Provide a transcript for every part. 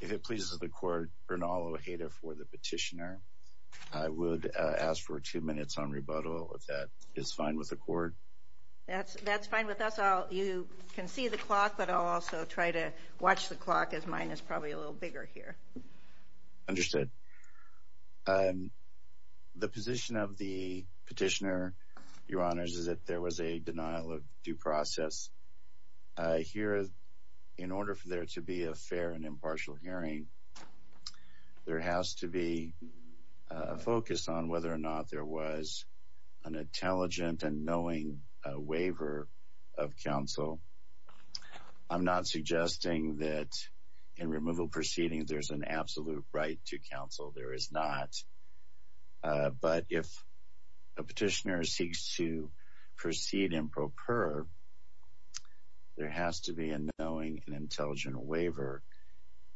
If it pleases the court, Bernal Ojeda for the petitioner. I would ask for two minutes on rebuttal if that is fine with the court. That's fine with us. You can see the clock but I'll also try to watch the clock as mine is probably a little bigger here. Understood. The position of the petitioner, your honors, is that there was a denial of due process. Here, in order for there to be a fair and impartial hearing, there has to be a focus on whether or not there was an intelligent and knowing waiver of counsel. I'm not suggesting that in removal proceedings there's an absolute right to counsel. There is not. But if a petitioner seeks to proceed improper, there has to be a knowing and intelligent waiver.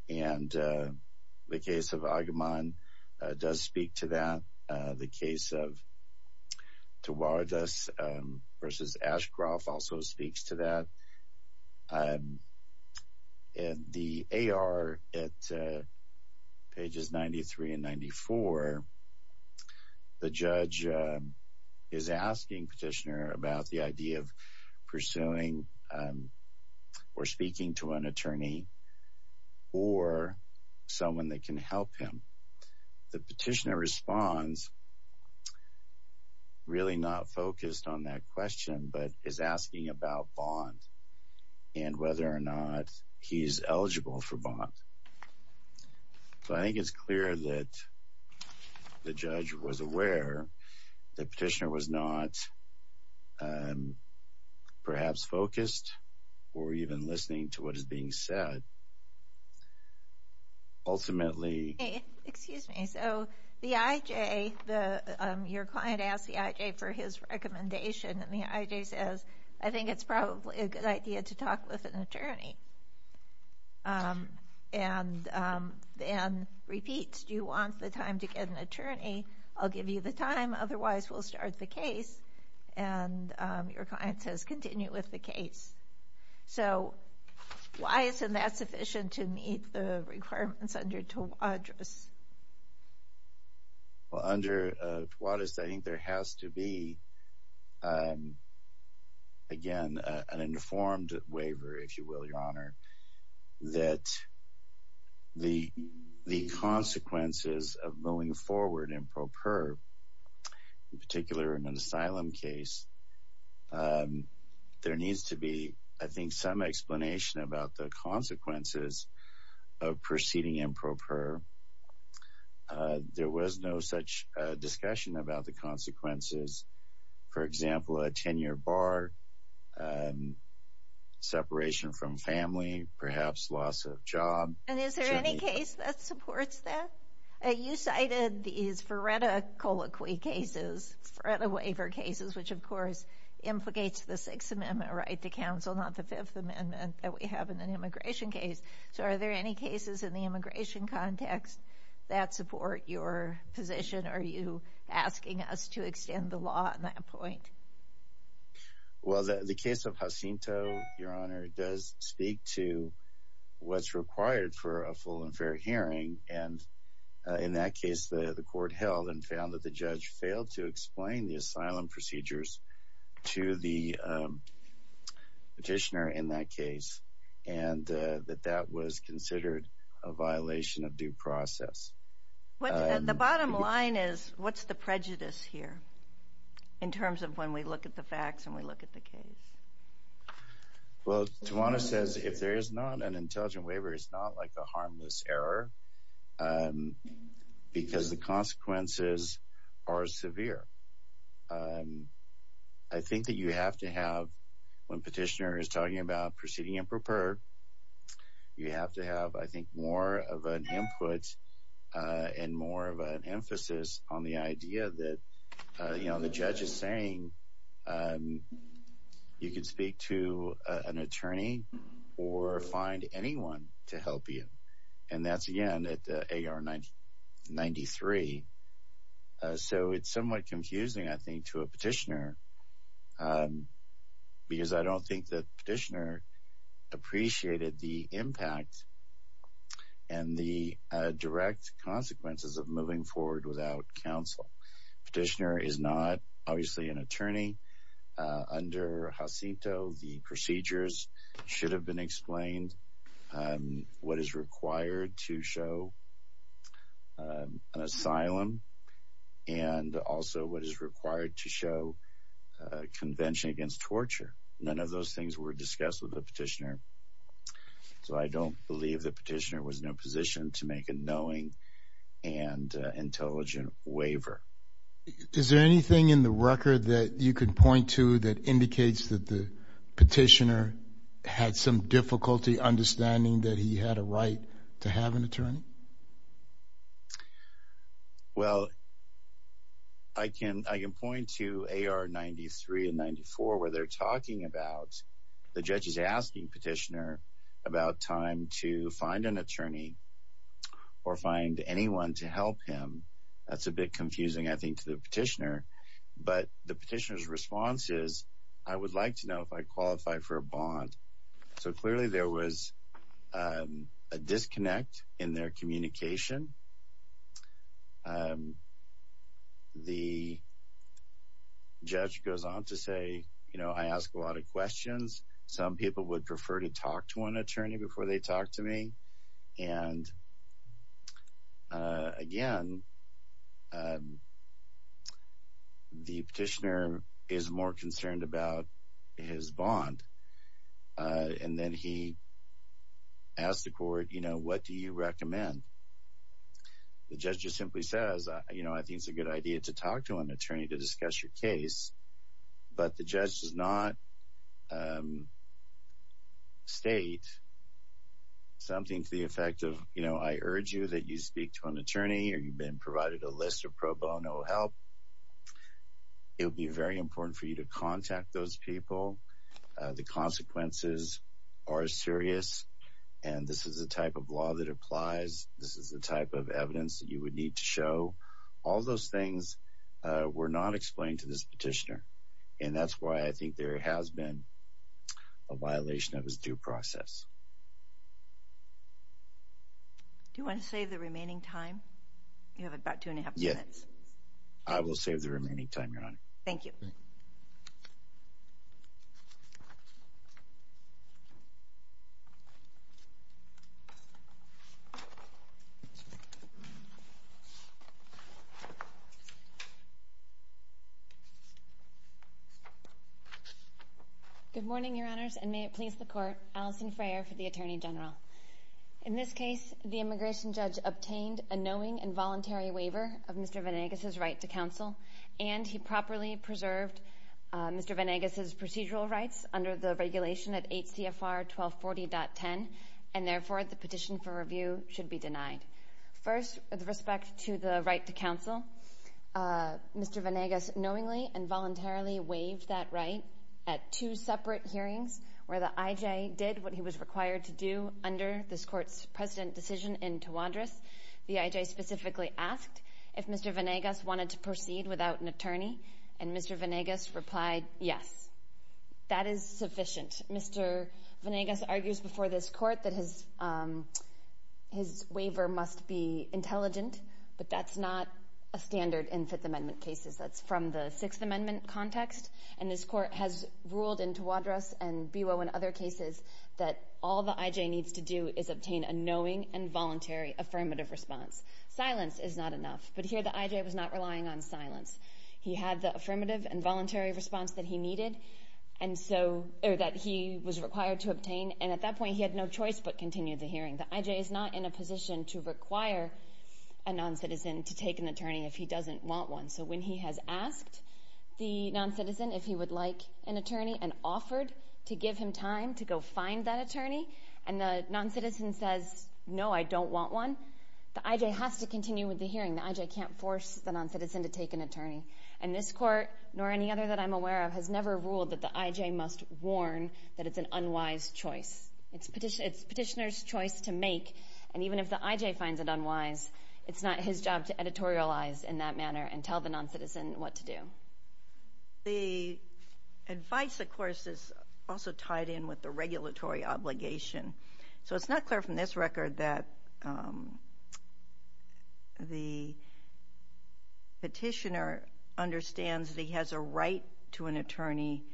The case of Agamemnon does speak to that. The case of the judge is asking petitioner about the idea of pursuing or speaking to an attorney or someone that can help him. The petitioner responds really not focused on that question but is asking about bond and whether or not he's the judge was aware the petitioner was not perhaps focused or even listening to what is being said. Ultimately, excuse me, so the IJ, your client asked the IJ for his recommendation and the IJ says I think it's probably a good idea to talk with an attorney. And then repeats, do you want the time to get an attorney? I'll give you the time, otherwise we'll start the case. And your client says continue with the case. So why isn't that sufficient to meet the requirements under TWADIS? I think there has to be, again, an informed waiver, if you will, your honor, that the consequences of moving forward improper, in particular in an asylum case, there needs to be, I think, some explanation about the consequences of proceeding improper. There was no such discussion about the consequences, for example, a 10-year bar, separation from family, perhaps loss of job. And is there any case that supports that? You cited these FRERTA colloquy cases, FRERTA waiver cases, which of course implicates the Sixth Amendment right to counsel, not the Fifth Amendment that we have in an immigration case. So are there any cases in the immigration context that support your position? Are you asking us to extend the law on that point? Well, the case of Jacinto, your honor, does speak to what's required for a full and fair hearing. And in that case, the court held and found that the judge failed to explain the asylum procedures to the petitioner in that case, and that that was considered a violation of due process. The bottom line is, what's the prejudice here, in terms of when we look at the facts and we look at the case? Well, Tawana says if there is not an intelligent waiver, it's not like a harmless error, because the consequences are severe. I think that you have to have, when petitioner is talking about proceeding and prepare, you have to have, I think, more of an input and more of an emphasis on the idea that, you know, to help you. And that's, again, at AR 93. So it's somewhat confusing, I think, to a petitioner. Because I don't think that petitioner appreciated the impact and the direct consequences of moving forward without counsel. Petitioner is not obviously an attorney. Under Jacinto, the procedures should have been explained, what is required to show an asylum, and also what is required to show convention against torture. None of those things were discussed with the petitioner. So I don't believe the petitioner was in a position to make a knowing and intelligent waiver. Is there anything in the record that you could point to that indicates that the petitioner had some difficulty understanding that he had a right to have an attorney? Well, I can point to AR 93 and 94, where they're talking about, the judge is asking petitioner about time to find an attorney or find anyone to help him. That's a bit confusing, I think, to the petitioner. But the petitioner's response is, I would like to know if I qualify for a bond. So clearly, there was a disconnect in their communication. The judge goes on to say, you know, I asked a lot of questions, some people would prefer to talk to an attorney before they talked to me. And again, the petitioner is more concerned about his bond. And then he asked the court, you know, what do you recommend? The judge just simply says, you know, I think it's a good idea to talk to an attorney to discuss your case. But the judge does not state something to the effect of, you know, I urge you that you speak to an attorney or you've been provided a list of pro bono help. It'll be very important for you to contact those people. The consequences are serious. And this is the type of law that applies. This is the type of evidence that you And that's why I think there has been a violation of his due process. Do you want to save the remaining time? You have about two and a half minutes. I will save the remaining time, Your Honor. Thank you. Good morning, Your Honors, and may it please the court, Alison Frayer for the Attorney General. In this case, the immigration judge obtained a knowing involuntary waiver of Mr. Venegas's right to counsel, and he properly preserved Mr. Venegas's procedural rights under the regulation at H.C.F.R. 1240.10. And therefore, the petition for review should be denied. First, with Mr. Venegas voluntarily waived that right at two separate hearings where the I.J. did what he was required to do under this court's president decision in Tawadros. The I.J. specifically asked if Mr. Venegas wanted to proceed without an attorney, and Mr. Venegas replied, yes. That is sufficient. Mr. Venegas argues before this court that his waiver must be intelligent, but that's not a standard in Fifth Amendment cases. That's from the Sixth Amendment context, and this court has ruled in Tawadros and B.O. and other cases that all the I.J. needs to do is obtain a knowing involuntary affirmative response. Silence is not enough, but here the I.J. was not relying on silence. He had the affirmative and voluntary response that he needed, or that he was required to obtain, and at that point he had no choice but continue the hearing. The I.J. is not in a position to require a noncitizen to take an attorney if he has asked the noncitizen if he would like an attorney and offered to give him time to go find that attorney, and the noncitizen says, no, I don't want one. The I.J. has to continue with the hearing. The I.J. can't force the noncitizen to take an attorney, and this court, nor any other that I'm aware of, has never ruled that the I.J. must warn that it's an unwise choice. It's petitioner's choice to make, and even if the I.J. finds it unwise, it's not his job to editorialize in that manner and tell the noncitizen what to do. The advice, of course, is also tied in with the regulatory obligation, so it's not clear from this record that the petitioner understands that he has a right to an attorney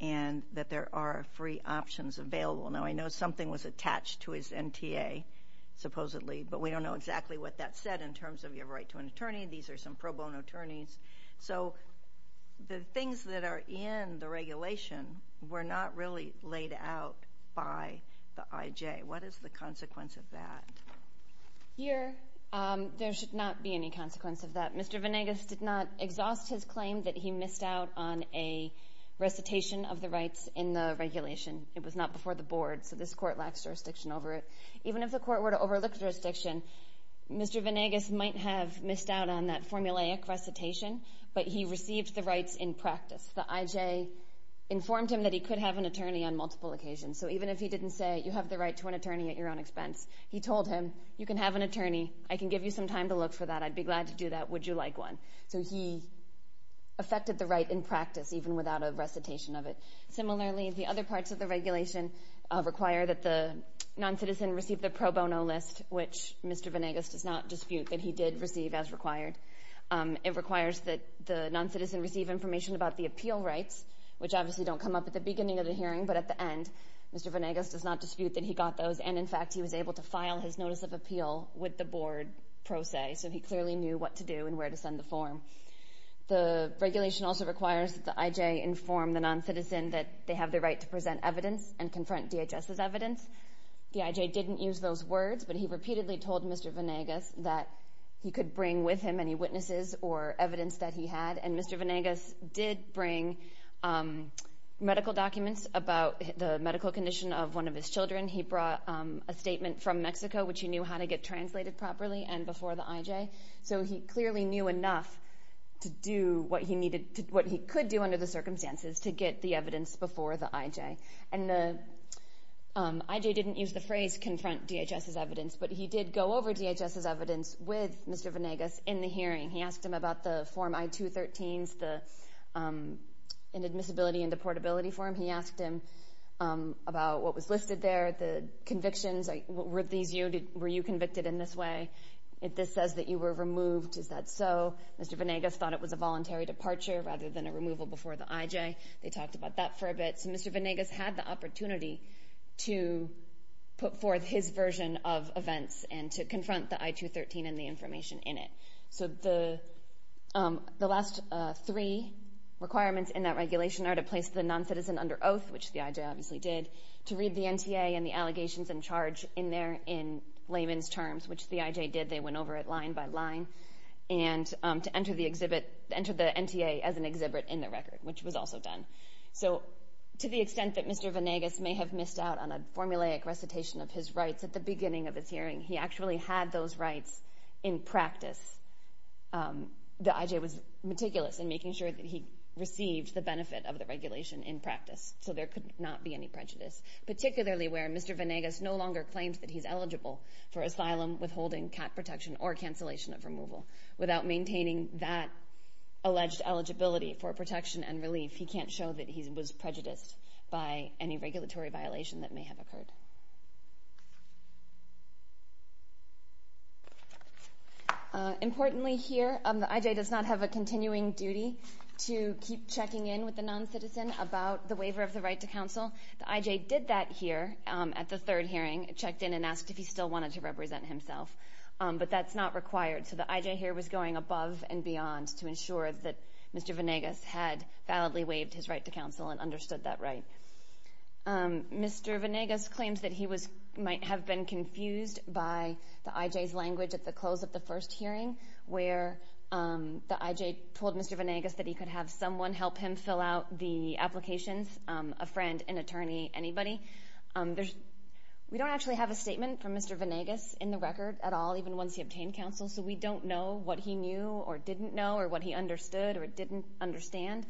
and that there are free options available. Now, I know something was said in terms of you have a right to an attorney. These are some pro bono attorneys. So the things that are in the regulation were not really laid out by the I.J. What is the consequence of that? Here, there should not be any consequence of that. Mr. Venegas did not exhaust his claim that he missed out on a recitation of the rights in the regulation. It was not before the board, so this court lacks jurisdiction over it. Even if the court were to overlook jurisdiction, Mr. Venegas might have missed out on that formulaic recitation, but he received the rights in practice. The I.J. informed him that he could have an attorney on multiple occasions. So even if he didn't say, you have the right to an attorney at your own expense, he told him, you can have an attorney. I can give you some time to look for that. I'd be glad to do that. Would you like one? So he affected the right in practice, even without a recitation of it. Similarly, the other parts of the regulation require that the noncitizen receive the pro bono list, which Mr. Venegas does not dispute that he did receive as required. It requires that the noncitizen receive information about the appeal rights, which obviously don't come up at the beginning of the hearing, but at the end, Mr. Venegas does not dispute that he got those, and in fact, he was able to determine where to send the form. The regulation also requires that the I.J. inform the noncitizen that they have the right to present evidence and confront DHS's evidence. The I.J. didn't use those words, but he repeatedly told Mr. Venegas that he could bring with him any witnesses or evidence that he had, and Mr. Venegas did bring medical documents about the medical condition of one of his children. He brought a statement from Mexico, which he knew how to get translated properly and before the I.J., so he clearly knew enough to do what he could do under the circumstances to get the evidence before the I.J. And the I.J. didn't use the phrase confront DHS's evidence, but he did go over DHS's evidence with Mr. Venegas in the hearing. He asked him about the Form I-213s, the inadmissibility and deportability form. He asked him about what was listed there, the convictions. Were you convicted in this way? If this says that you were removed, is that so? Mr. Venegas thought it was a voluntary departure rather than a removal before the I.J. They talked about that for a bit, so Mr. Venegas had the opportunity to put forth his version of events and to under oath, which the I.J. obviously did, to read the NTA and the allegations in charge in there in layman's terms, which the I.J. did. They went over it line by line, and to enter the exhibit, enter the NTA as an exhibit in the record, which was also done. So to the extent that Mr. Venegas may have missed out on a formulaic recitation of his rights in practice, so there could not be any prejudice, particularly where Mr. Venegas no longer claims that he's eligible for asylum, withholding, cat protection, or cancellation of removal. Without maintaining that alleged eligibility for protection and relief, he can't show that he was prejudiced by any regulatory violation that may have occurred. Importantly here, the I.J. does not have a continuing duty to keep checking in with a non-citizen about the waiver of the right to counsel. The I.J. did that here at the third hearing, checked in and asked if he still wanted to represent himself, but that's not required. So the I.J. here was going above and beyond to ensure that Mr. Venegas had validly waived his right to counsel and understood that right. Mr. Venegas claims that he might have been confused by the I.J.'s language at the close of the first hearing, where the I.J. told Mr. Venegas that he could have someone help him fill out the applications, a friend, an attorney, anybody. We don't actually have a statement from Mr. Venegas in the record at all, even once he obtained counsel, so we don't know what he knew or didn't know or what he understood or didn't understand.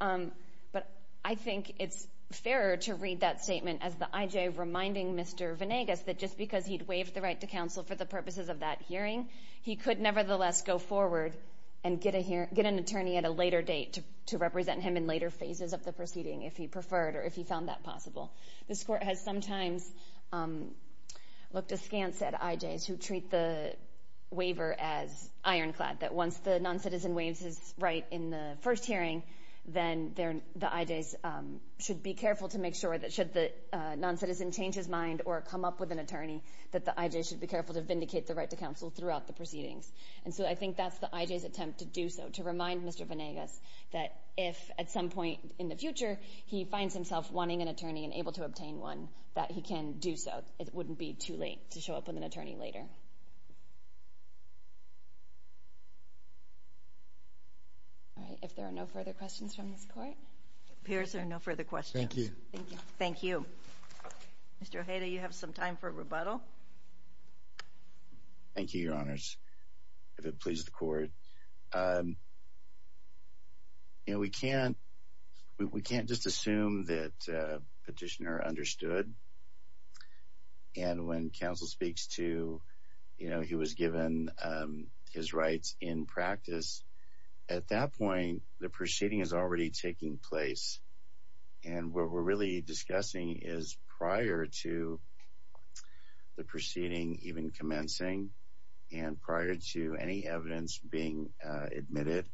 But I think it's fairer to read that statement as the I.J. reminding Mr. Venegas that just because he'd waived the right to counsel for the purposes of that hearing, he could nevertheless go forward and get an attorney at a later date to represent him in later phases of the proceeding if he preferred or if he found that possible. This Court has sometimes looked askance at I.J.'s who treat the waiver as ironclad, that once the noncitizen waives his right in the first hearing, then the I.J.'s should be careful to make sure that should the noncitizen change his mind or come up with an attorney, that the I.J. should be careful to vindicate the right to counsel throughout the proceedings. And so I think that's the I.J.'s attempt to do so, to remind Mr. Venegas that if at some point in the future he finds himself wanting an attorney and able to obtain one, that he can do so. It wouldn't be too late to show up with an attorney later. All right, if there are no further questions from this Court. It appears there are no further questions. Thank you. Thank you. Thank you, Your Honors. If it pleases the Court. You know, we can't we can't just assume that petitioner understood. And when counsel speaks to, you know, he was given his rights in practice at that point, the proceeding is already taking place. And what we're really discussing is prior to the proceeding even commencing and prior to any evidence being admitted,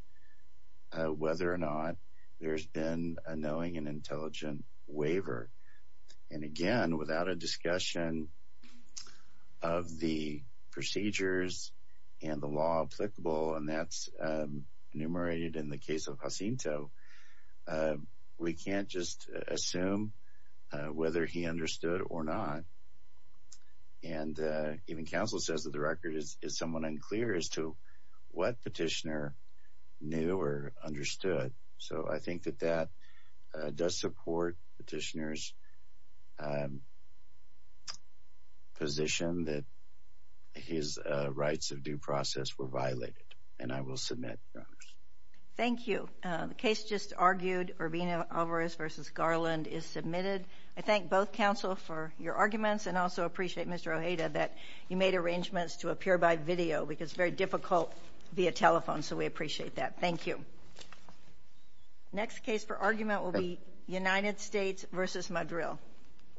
whether or not there's been a knowing and intelligent waiver. And again, without a discussion of the procedures and the law applicable, and that's enumerated in the case of Jacinto, we can't just assume whether he understood or not. And even counsel says that the record is somewhat unclear as to what petitioner knew or understood. So I think that that does support petitioner's position that his rights of due process were violated. And I will submit, Your Honors. Thank you. The case just argued Urbina-Alvarez v. Garland is submitted. I thank both counsel for your arguments and also appreciate Mr. Ojeda that you made arrangements to appear by video because it's very difficult via telephone. So we appreciate that. Thank you. Next case for argument will be United States v. Madril.